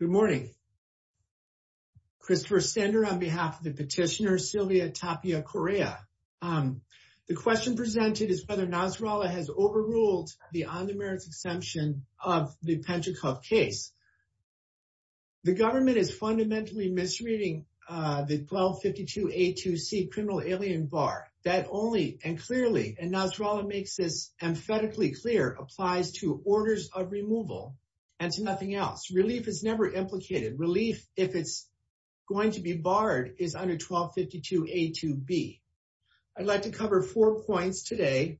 Good morning. Christopher Sander on behalf of the petitioner Sylvia Tapia Coria. The question presented is whether Nasrallah has overruled the on-demand exemption of the Pentecost case. The government is fundamentally misreading the 1252A2C criminal alien bar. That only and clearly, and Nasrallah makes this emphatically clear, applies to orders of removal and to nothing else. Relief is never implicated. Relief, if it's going to be barred, is under 1252A2B. I'd like to cover four points today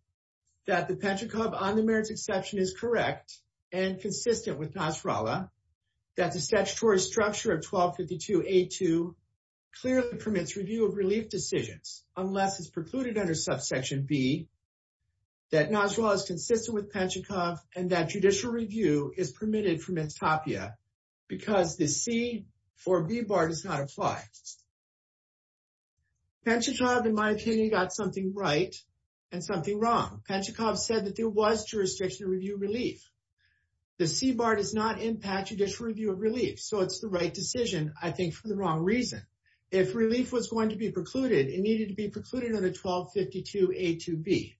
that the Pentecost on-demand exception is correct and consistent with Nasrallah, that the statutory structure of 1252A2 clearly permits review of relief decisions, unless it's precluded under subsection B, that Nasrallah is consistent with Pentecost, and that judicial review is permitted for Ms. Tapia, because the C4B bar does not apply. Pentecost, in my opinion, got something right and something wrong. Pentecost said that there was jurisdiction to review relief. The C bar does not impact judicial review of relief, so it's the right decision, I think, for the wrong reason. If relief was going to be precluded, it needed to be precluded under 1252A2B.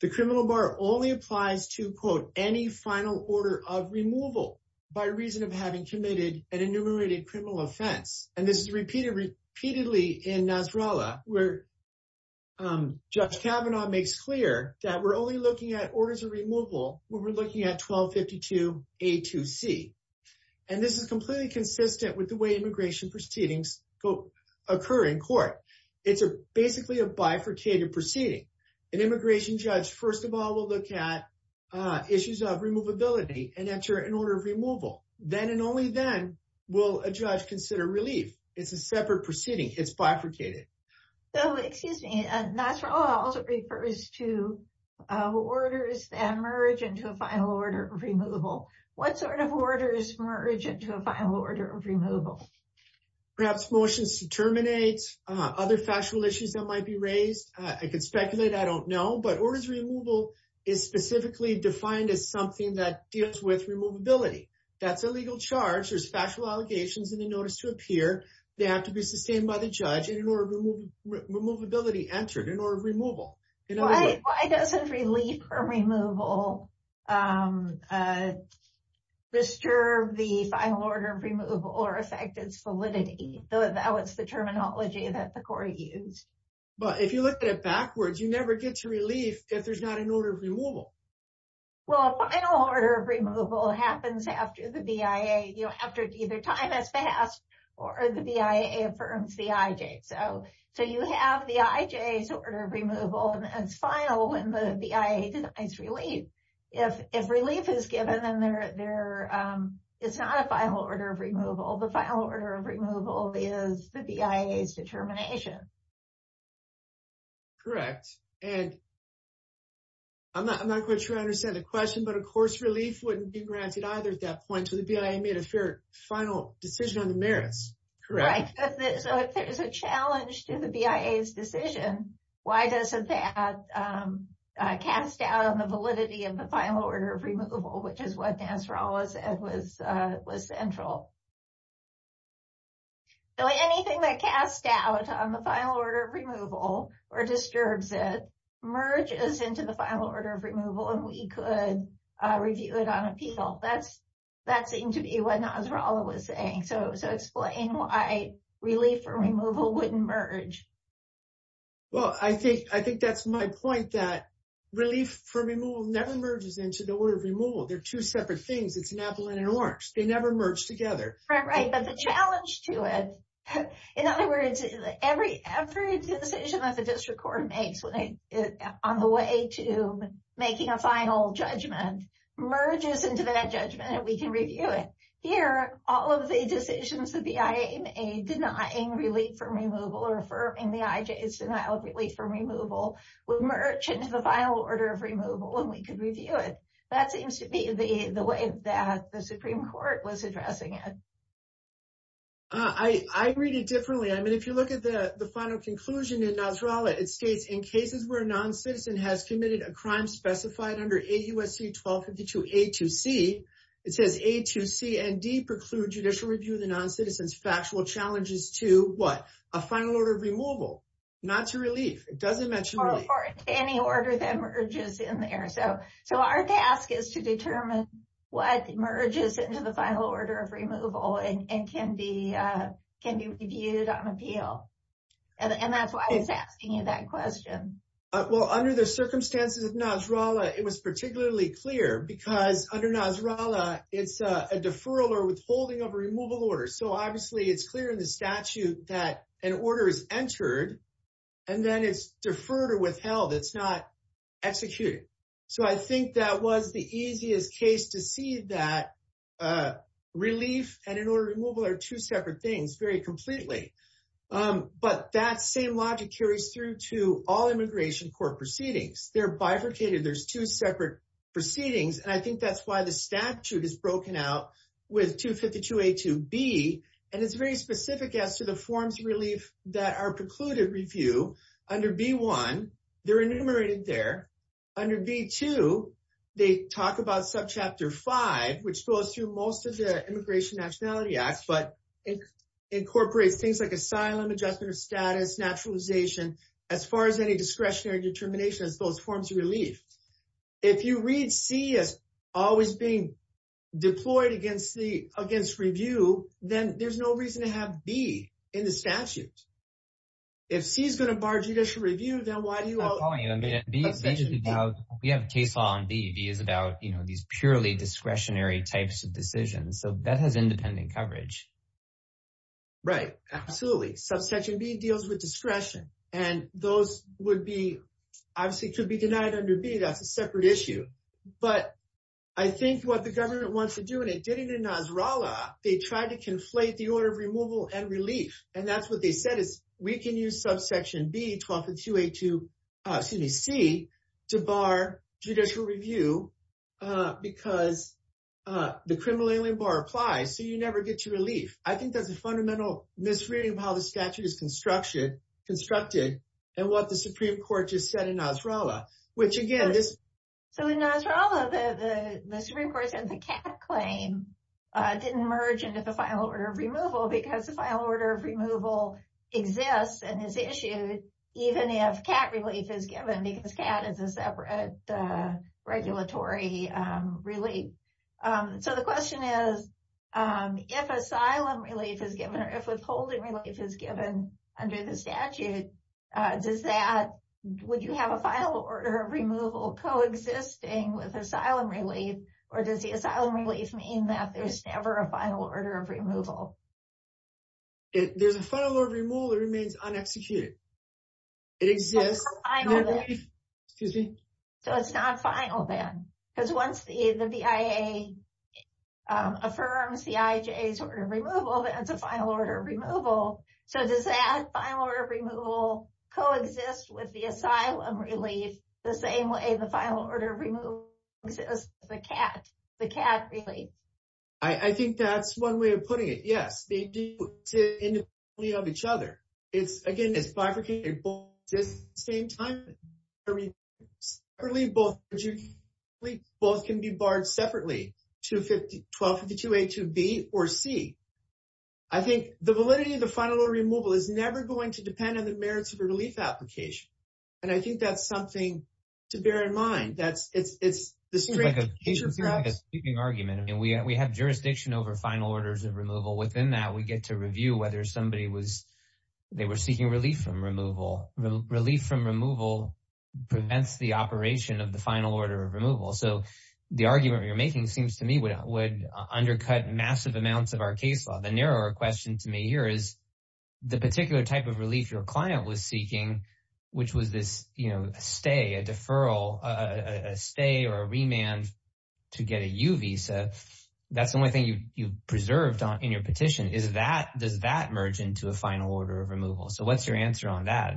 The criminal bar only applies to, quote, any final order of removal by reason of having committed an enumerated criminal offense. And this is repeated repeatedly in Nasrallah, where Judge Kavanaugh makes clear that we're only looking at orders of removal when we're looking at 1252A2C. And this is completely consistent with the way immigration proceedings occur in court. It's basically a bifurcated proceeding. An immigration judge, first of all, will look at issues of removability and enter an order of removal. Then and only then will a judge consider relief. It's a separate proceeding. It's bifurcated. So, excuse me, Nasrallah also refers to orders that merge into a final order of removal. What sort of orders merge into a final order of removal? Perhaps motions to terminate, other factual issues that might be raised. I could speculate. I don't know. But orders of removal is specifically defined as something that deals with removability. That's a legal charge. There's factual allegations in the notice to appear. They have to be sustained by the judge, and an order of removability entered, an order of removal. Why doesn't relief from removal disturb the final order of removal or affect its validity? That was the terminology that the court used. But if you look at it backwards, you never get to relief if there's not an order of removal. Well, a final order of removal happens after the BIA, you know, after either time has passed or the BIA affirms the IJ. So, you have the IJ's order of removal, and it's final when the BIA decides relief. If relief is given, then it's not a final order of removal. The final order of removal is the BIA's determination. Correct. And I'm not quite sure I understand the question, but of course, relief wouldn't be granted either at that point. So, the BIA made a final decision on the merits. Right. So, if there's a challenge to the BIA's decision, why doesn't that cast doubt on the validity of the final order of removal, which is what Nasrallah said was central. So, anything that casts doubt on the final order of removal or disturbs it merges into the final order of removal, and we could review it on appeal. That seemed to be what Nasrallah was saying. So, explain why relief or removal wouldn't merge. Well, I think that's my point, that relief for removal never merges into the order of removal. They're two separate things. It's an apple and an orange. They never merge together. Right. But the challenge to it, in other words, every decision that the district court makes on the way to making a final judgment merges into that judgment, and we can review it. Here, all of the decisions that the BIA made denying relief for removal or affirming the IJ's denial of relief for removal would merge into the final order of removal, and we could review it. That seems to be the way that the Supreme Court was addressing it. I read it differently. I mean, if you look at the final conclusion in Nasrallah, it states, in cases where a non-citizen has committed a crime specified under AUSC 1252 A2C, it says A2C and D preclude judicial review of the non-citizen's factual challenges to what? A final order of removal, not to relief. It doesn't mention relief. Or any order that merges in there. So, our task is to determine what merges into the question. Well, under the circumstances of Nasrallah, it was particularly clear, because under Nasrallah, it's a deferral or withholding of a removal order. So, obviously, it's clear in the statute that an order is entered, and then it's deferred or withheld. It's not executed. So, I think that was the easiest case to see that relief and an order are two separate things, very completely. But that same logic carries through to all immigration court proceedings. They're bifurcated. There's two separate proceedings. And I think that's why the statute is broken out with 252 A2B. And it's very specific as to the forms of relief that are precluded review. Under B1, they're enumerated there. Under B2, they talk about Chapter 5, which goes through most of the Immigration Nationality Act, but incorporates things like asylum, adjustment of status, naturalization, as far as any discretionary determination as those forms of relief. If you read C as always being deployed against review, then there's no reason to have B in the statute. If C is going to bar judicial review, then why do purely discretionary types of decisions? So, that has independent coverage. Right. Absolutely. Subsection B deals with discretion. And those would be, obviously, could be denied under B. That's a separate issue. But I think what the government wants to do, and it did it in Nasrallah, they tried to conflate the order of removal and relief. And that's what they said is, we can use subsection B, 1252 A2, excuse me, C, to bar judicial review, because the criminal alien bar applies, so you never get to relief. I think that's a fundamental misreading of how the statute is constructed, and what the Supreme Court just said in Nasrallah, which, again, this... So, in Nasrallah, the Supreme Court said the CAT claim didn't merge into the final order of removal, because the final order of removal exists and is issued, even if CAT relief is given, because CAT is a separate regulatory relief. So, the question is, if asylum relief is given, or if withholding relief is given under the statute, would you have a final order of removal coexisting with asylum relief? Or does the asylum relief mean that there's never a final order of removal? There's a final order of removal that remains un-executed. It exists... So, it's not final, then? Excuse me? So, it's not final, then? Because once the BIA affirms the IJA's order of removal, that's a final order of removal. So, does that final order of removal coexist with the asylum relief, the same way the final order of removal exists with the CAT relief? I think that's one way of putting it. Yes, they do exist independently of each other. It's, again, it's bifurcated, but at the same time, both can be barred separately, 252A, 252B, or C. I think the validity of the final order of removal is never going to depend on the merits of a relief application. And I think that's something to bear in mind. It seems like a sweeping argument, we have jurisdiction over final orders of removal. Within that, we get to review whether somebody was, they were seeking relief from removal. Relief from removal prevents the operation of the final order of removal. So, the argument you're making seems to me would undercut massive amounts of our case law. The narrower question to me here is the particular type of relief your client was seeking, which was this, you know, stay, a deferral, a stay or a remand to get a U visa. That's the only thing you preserved in your petition. Is that, does that merge into a final order of removal? So, what's your answer on that?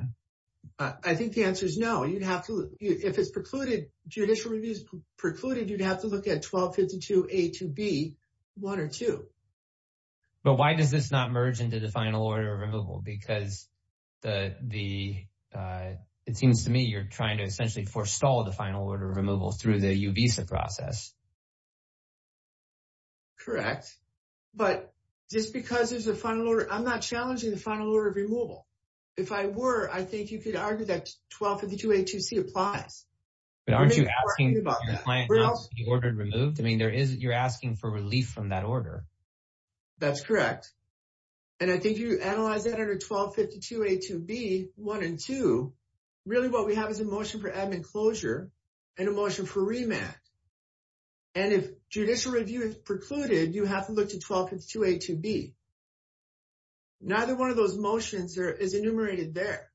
I think the answer is no. You'd have to, if it's precluded, judicial review is precluded, you'd have to look at 1252A, 2B, one or two. But why does this not merge into the final order of removal? Because it seems to me you're trying to essentially forestall the final order removal through the U visa process. Correct. But just because there's a final order, I'm not challenging the final order of removal. If I were, I think you could argue that 1252A, 2C applies. But aren't you asking the client not to be ordered removed? I mean, there is, you're asking for relief from that order. That's correct. And I think you analyze that under 1252A, 2B, one and two, really what we have is a motion for admin closure and a motion for remand. And if judicial review is precluded, you have to look to 1252A, 2B. Neither one of those motions is enumerated there.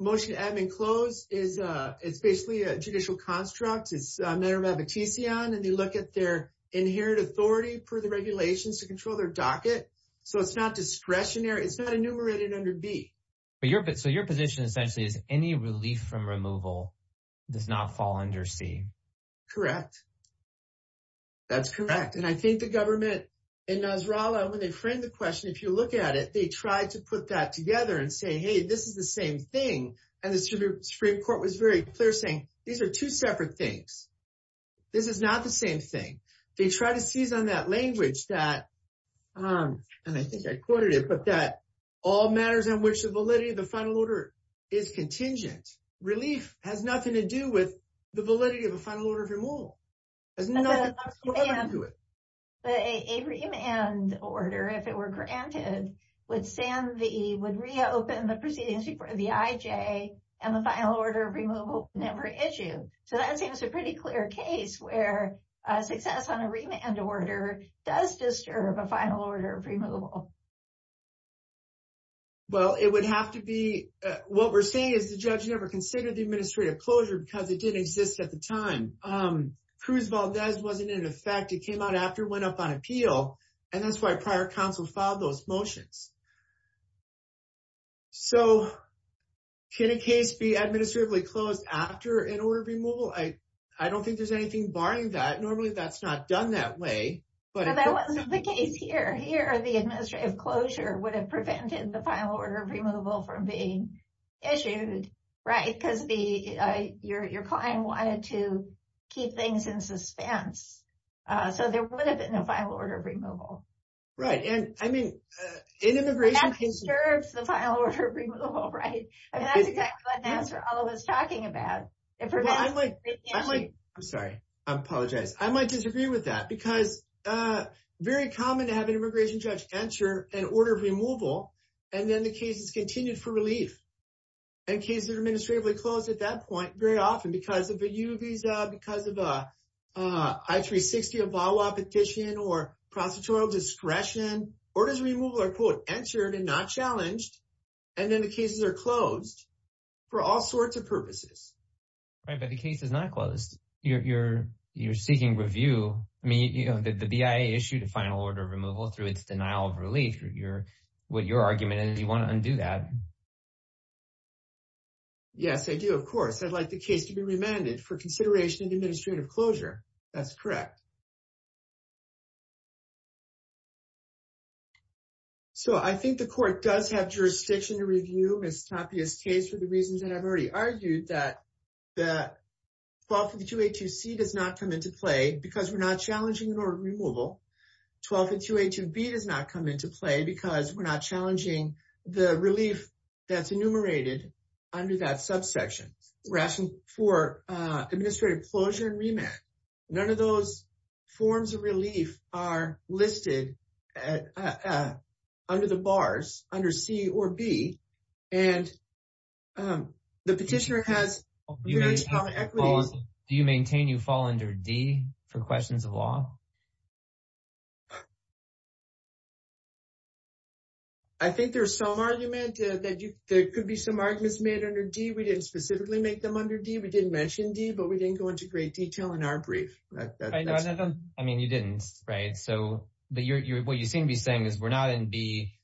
Motion to admin close is, it's basically a judicial construct. It's a matter of appetition. And they look at their inherent authority for the regulations to control their docket. So, it's not discretionary. It's not enumerated under B. So, your position essentially is any relief from removal does not fall under C. Correct. That's correct. And I think the government in Nasrallah, when they framed the question, if you look at it, they tried to put that together and say, hey, this is the same thing. And the Supreme Court was very clear saying, these are two separate things. This is not the same thing. They try to seize on that language that, and I think I quoted it, but that all matters on which the validity of the final order is contingent. Relief has nothing to do with the validity of the final order of removal. It has nothing to do with it. But a remand order, if it were granted, would reopen the proceedings before the IJ and the final order of removal never issue. So, that seems a pretty clear case where a success on a remand order does disturb a final order of removal. Well, it would have to be, what we're saying is the judge never considered the administrative closure because it didn't exist at the time. Cruz Valdez wasn't in effect. It came out after, went up on appeal, and that's why prior counsel filed those motions. So, can a case be administratively closed after an order of removal? I don't think there's anything barring that. Normally, that's not done that way. But that wasn't the case here. Here, the administrative closure would have prevented the final order of removal from being issued, right? Because your client wanted to keep things in suspense. So, there would have been a final order of removal. Right. And I mean, in immigration cases- But that disturbs the final order of removal, right? I mean, that's exactly the answer I was talking about. It prevents- Well, I'm like, I'm sorry. I apologize. I might agree with that because it's very common to have an immigration judge enter an order of removal, and then the case is continued for relief. And cases are administratively closed at that point very often because of a U visa, because of an I-360 or VAWA petition, or prosecutorial discretion. Orders of removal are, quote, entered and not challenged, and then the cases are closed for all sorts of purposes. Right, but the case is not closed. You're seeking review. I mean, the BIA issued a final order of removal through its denial of relief, what your argument is. Do you want to undo that? Yes, I do, of course. I'd like the case to be remanded for consideration of administrative closure. That's correct. So, I think the court does have jurisdiction to review Ms. Tapia's case for the reasons that I've already argued, that the 1252A2C does not come into play because we're not challenging an order of removal. 1252A2B does not come into play because we're not challenging the relief that's enumerated under that subsection. We're asking for administrative closure and remand. None of those forms of relief are listed under the bars, under C or B, and the petitioner has very strong equities. Do you maintain you fall under D for questions of law? I think there's some argument that there could be some arguments made under D. We didn't specifically make them under D. We didn't mention D, but we didn't go into great detail in our brief. I mean, you didn't, right? So, what you seem to be saying is we're not in B,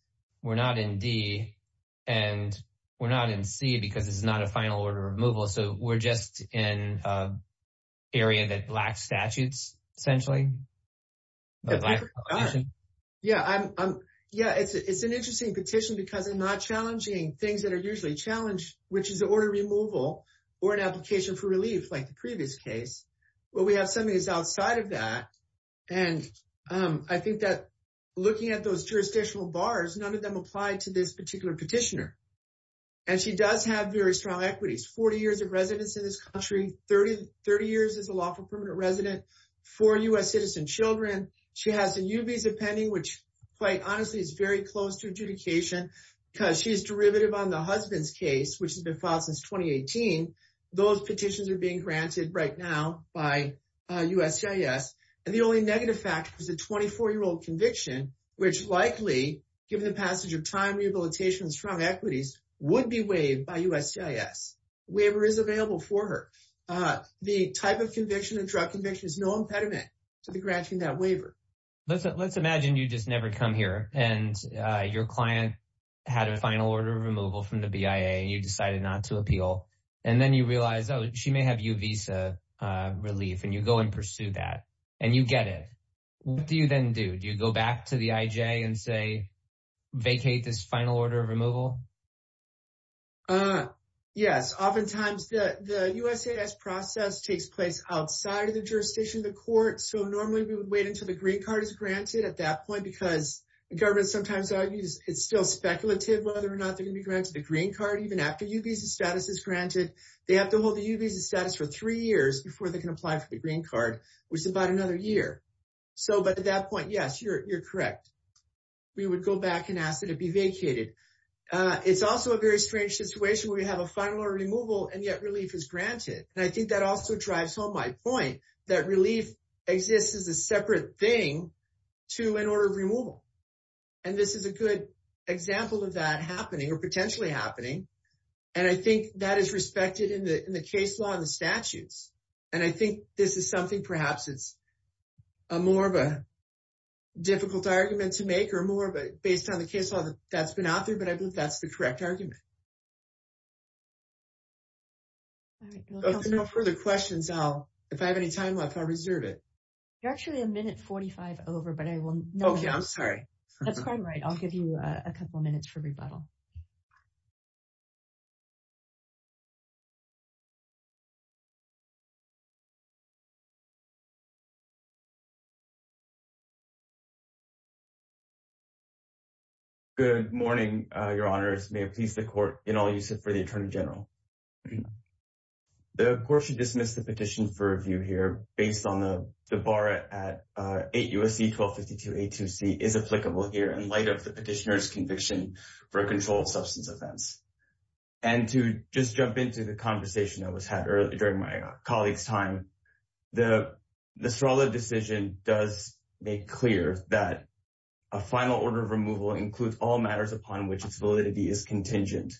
and we're not in C because it's not a final order of removal. So, we're just in an area that Black statutes, essentially. Yeah, it's an interesting petition because I'm not challenging things that are usually challenged, which is order removal or an application for relief like the previous case. Well, we have some of these outside of that, and I think that looking at those jurisdictional bars, none of them apply to this particular petitioner, and she does have very strong equities, 40 years of residence in this country, 30 years as a lawful permanent resident, four U.S. citizen children. She has a new visa pending, which quite honestly is very close to adjudication because she's derivative on the husband's case, which has been filed since 2018. Those petitions are being granted right now by USCIS, and the only negative fact was a 24-year-old conviction, which likely, given the passage of time rehabilitation and strong equities, would be waived by USCIS. Waiver is available for her. The type of conviction, a drug conviction, is no impediment to the granting that waiver. Let's imagine you just never come here, and your client had a final order of removal from the BIA, and you decided not to appeal, and then you realize, oh, she may have U visa relief, and you go and pursue that, and you get what you then do. Do you go back to the IJ and say, vacate this final order of removal? Yes. Oftentimes, the USCIS process takes place outside of the jurisdiction of the court, so normally we would wait until the green card is granted at that point because the government sometimes argues it's still speculative whether or not they're going to be granted the green card even after U visa status is granted. They have to hold the U visa status for three years before they can apply for the green card, which is about another year. But at that point, yes, you're correct. We would go back and ask that it be vacated. It's also a very strange situation where you have a final order of removal, and yet relief is granted. I think that also drives home my point that relief exists as a separate thing to an order of removal. This is a good example of that happening or potentially happening, and I think that is respected in the case law and the this is something perhaps it's more of a difficult argument to make or more based on the case law that's been out there, but I believe that's the correct argument. If there are no further questions, if I have any time left, I'll reserve it. You're actually a minute 45 over, but I will... Okay, I'm sorry. That's quite right. I'll give you a couple of minutes for rebuttal. Okay. Good morning, your honors. May it please the court in all use for the attorney general. The court should dismiss the petition for review here based on the bar at 8 U.S.C. 1252-82C is applicable here in light of the petitioner's conviction for a controlled substance offense. And to just jump into the conversation that was had earlier during my colleague's time, the Nasrallah decision does make clear that a final order of removal includes all matters upon which its validity is contingent.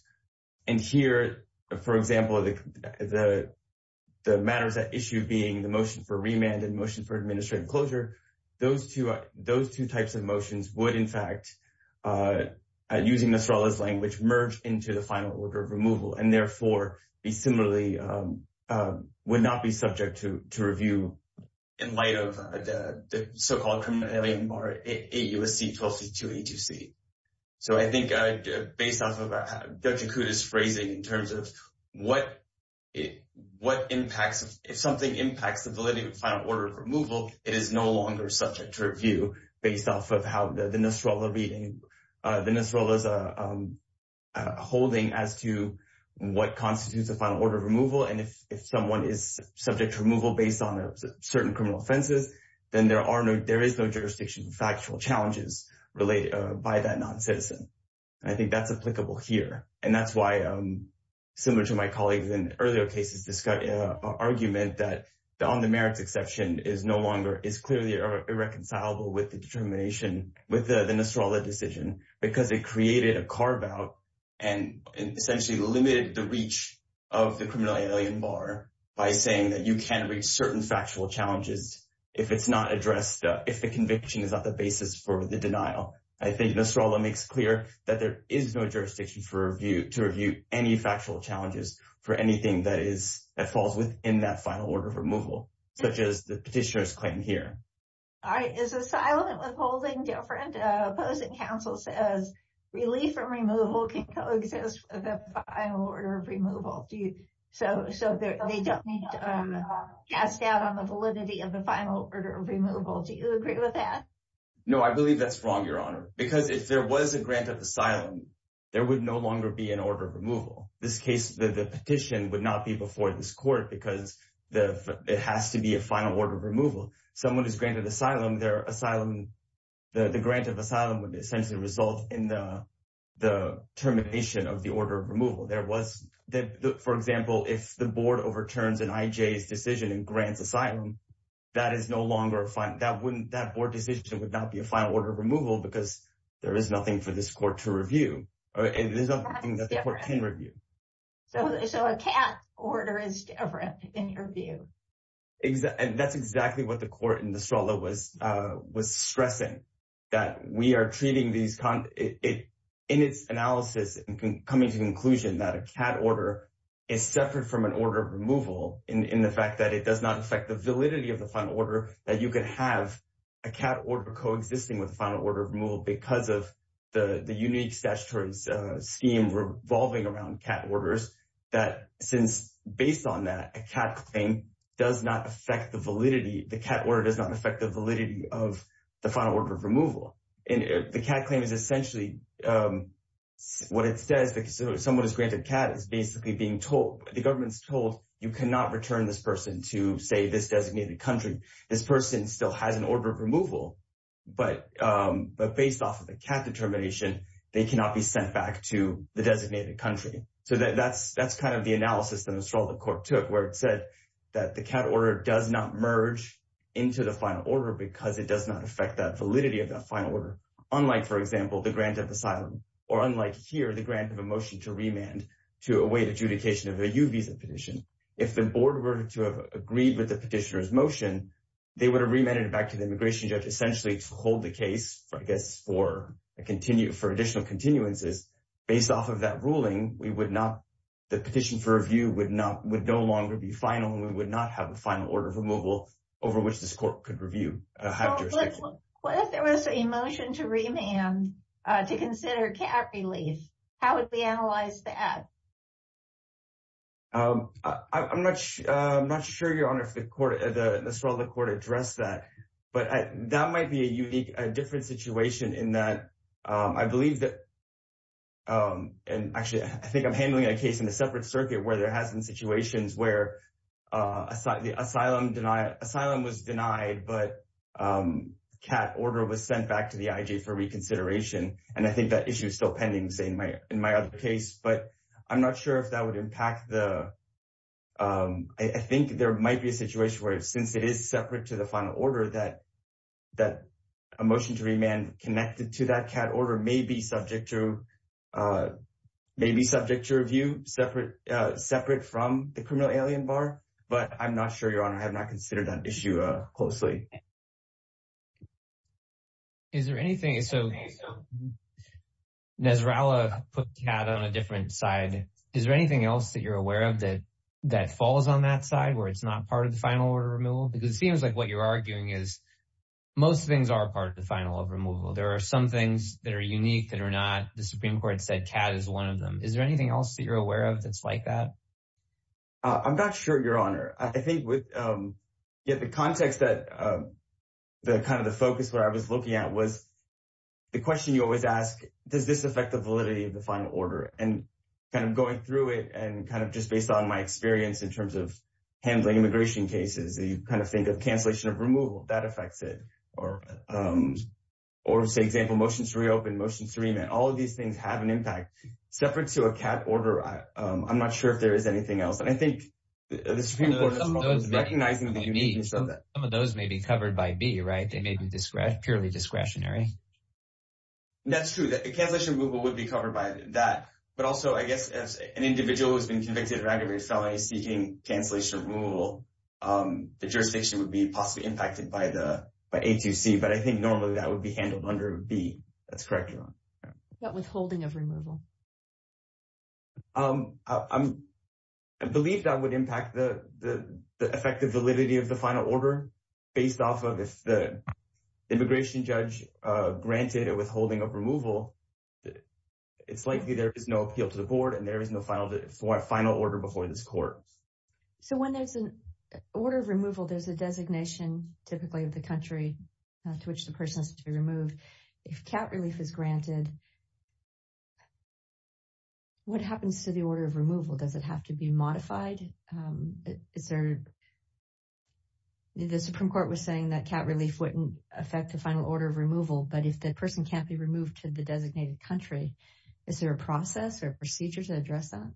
And here, for example, the matters at issue being the motion for remand and motion for administrative closure, those two types of motions would in fact, at using Nasrallah's language, merge into the final order of removal and therefore be similarly, would not be subject to review in light of the so-called criminal bar at 8 U.S.C. 1252-82C. So I think based off of what Dr. Koot is phrasing in terms of what impacts, if something impacts the validity of the final order of removal, it is no longer subject to the Nasrallah's holding as to what constitutes a final order of removal. And if someone is subject to removal based on certain criminal offenses, then there is no jurisdiction for factual challenges related by that non-citizen. I think that's applicable here. And that's why, similar to my colleagues in earlier cases, this argument that on the merits exception is clearly irreconcilable with the determination, with the Nasrallah decision, because it created a carve-out and essentially limited the reach of the criminal alien bar by saying that you can't reach certain factual challenges if it's not addressed, if the conviction is not the basis for the denial. I think Nasrallah makes clear that there is no jurisdiction to review any factual challenges for anything that falls within that final order removal, such as the petitioner's claim here. All right. Is asylum and withholding different? Opposing counsel says relief from removal can coexist with the final order of removal. So they don't need to cast doubt on the validity of the final order of removal. Do you agree with that? No, I believe that's wrong, Your Honor, because if there was a grant of asylum, there would no longer be an order of removal. This case, the petition would not be before this it has to be a final order of removal. Someone who's granted asylum, the grant of asylum would essentially result in the termination of the order of removal. For example, if the board overturns an IJ's decision and grants asylum, that board decision would not be a final order of removal because there is nothing for this court to review, and there's nothing that the court can review. So a CAT order is different in your view? And that's exactly what the court in Nasrallah was stressing, that we are treating these in its analysis and coming to the conclusion that a CAT order is separate from an order of removal in the fact that it does not affect the validity of the final order, that you could have a CAT order coexisting with the final order of removal because of the unique statutory scheme revolving around CAT orders, that since based on that, a CAT claim does not affect the validity, the CAT order does not affect the validity of the final order of removal. And the CAT claim is essentially what it says because someone who's granted CAT is basically being told, the government is told you cannot return this person to say this designated country. This person still has an order of removal, but based off of the CAT determination, they cannot be sent back to the designated country. So that's kind of the analysis that Nasrallah court took where it said that the CAT order does not merge into the final order because it does not affect that validity of that final order. Unlike for example, the grant of asylum or unlike here, the grant of a motion to remand to await adjudication of a U visa petition. If the board were to have agreed with the petitioner's essentially to hold the case, I guess for additional continuances, based off of that ruling, the petition for review would no longer be final and we would not have a final order of removal over which this court could review. What if there was a motion to remand to consider CAT relief? How would we analyze that? I'm not sure, Your Honor, if Nasrallah court addressed that, but that might be a unique, a different situation in that I believe that, and actually I think I'm handling a case in a separate circuit where there has been situations where asylum was denied, but CAT order was sent back to the IJ for reconsideration. And I think that issue is still pending in my other case, but I'm not sure if that would impact the, I think there might be a situation where since it is separate to the final order that a motion to remand connected to that CAT order may be subject to review separate from the criminal alien bar, but I'm not sure, Your Honor, I have not considered that issue closely. Is there anything, so Nasrallah put CAT on a different side. Is there anything else that you're aware of that falls on that side where it's not part of the final order of removal? Because it seems like what you're arguing is most things are part of the final of removal. There are some things that are unique that are not, the Supreme Court said CAT is one of them. Is there anything else that you're aware of that's like that? I'm not sure, Your Honor. I think with the context that kind of the focus where I was looking at was the question you always ask, does this affect the validity of the final order? And kind of going through it and kind of just based on my experience in terms of handling immigration cases, you kind of think of cancellation of removal, that affects it. Or say, example, motions to reopen, motions to remand, all of these things have an impact separate to a CAT order. I'm not sure if there is anything else. And I think the Supreme Court is probably recognizing the uniqueness of that. Some of those may be covered by B, right? They may be purely discretionary. And that's true. The cancellation of removal would be covered by that. But also, I guess, as an individual who's been convicted of aggravated felony seeking cancellation of removal, the jurisdiction would be possibly impacted by A to C. But I think normally that would be handled under B. That's correct, Your Honor. What about withholding of removal? I believe that would impact the effective validity of the final order based off of if the immigration judge granted a withholding of removal, it's likely there is no appeal to the board and there is no final order before this court. So when there's an order of removal, there's a designation typically of the country to which the person has to be removed. If CAT relief is granted, what happens to the order of removal? Does it have to be modified? The Supreme Court was saying that CAT relief wouldn't affect the final order of removal. But if the person can't be removed to the designated country, is there a process or procedure to address that?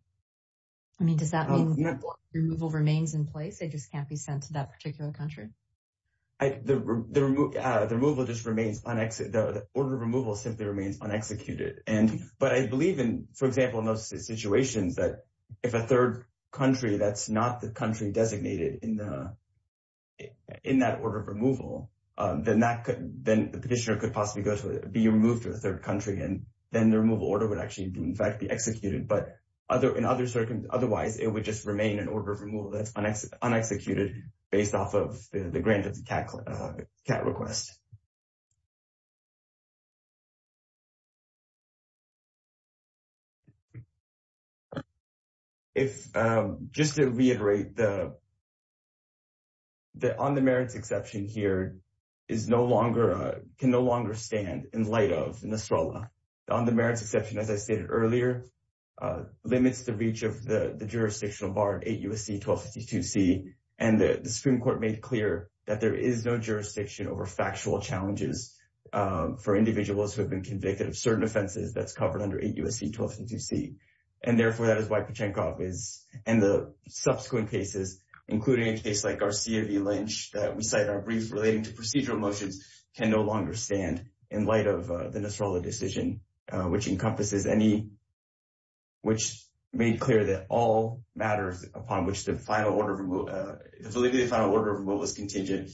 I mean, does that mean removal remains in place? It just can't be sent to that particular country? The order of removal simply remains unexecuted. But I believe in, for example, most situations that if a third country that's not the country designated in that order of removal, then the petitioner could possibly be removed to a third country and then the removal order would actually, in fact, be executed. But otherwise, it would just remain an order of removal that's unexecuted based off of the grant of the CAT request. If, just to reiterate, the on-the-merits exception here is no longer, can no longer stand in light of NESTROLA. The on-the-merits exception, as I stated earlier, limits the reach of the jurisdictional bar 8 U.S.C. 1252 C. And the Supreme Court made clear that there is no offenses that's covered under 8 U.S.C. 1252 C. And therefore, that is why Pachenkov is, and the subsequent cases, including a case like Garcia v. Lynch that we cite in our brief relating to procedural motions, can no longer stand in light of the NESTROLA decision, which encompasses any, which made clear that all matters upon which the final order of removal, the validity of the final order of removal is contingent,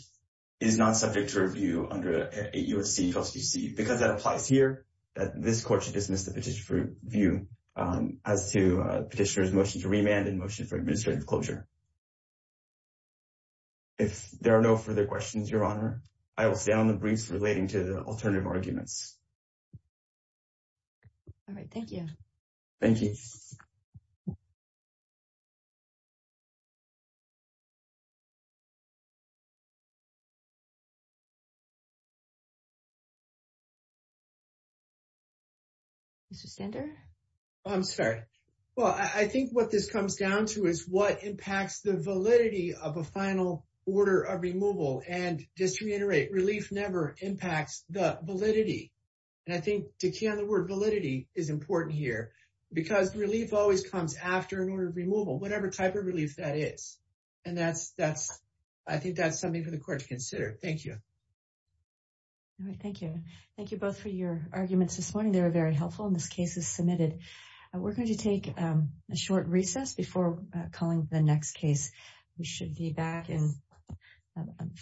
is not subject to review under 8 U.S.C. 1252 C. Because that applies here, that this court should dismiss the petition for review as to the petitioner's motion to remand and motion for administrative closure. If there are no further questions, Your Honor, I will stand on the briefs relating to the alternative arguments. All right, thank you. Thank you. Mr. Sander? I'm sorry. Well, I think what this comes down to is what impacts the validity of a final order of removal. And just to reiterate, relief never impacts the validity. And I think the key on the word validity is important here, because relief always comes after an order of removal, whatever type of relief that is. And that's, I think that's something for the court to consider. Thank you. All right, thank you. Thank you both for your arguments this morning. They were very helpful, and this case is submitted. We're going to take a short recess before calling the next case. We should be back in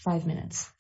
five minutes.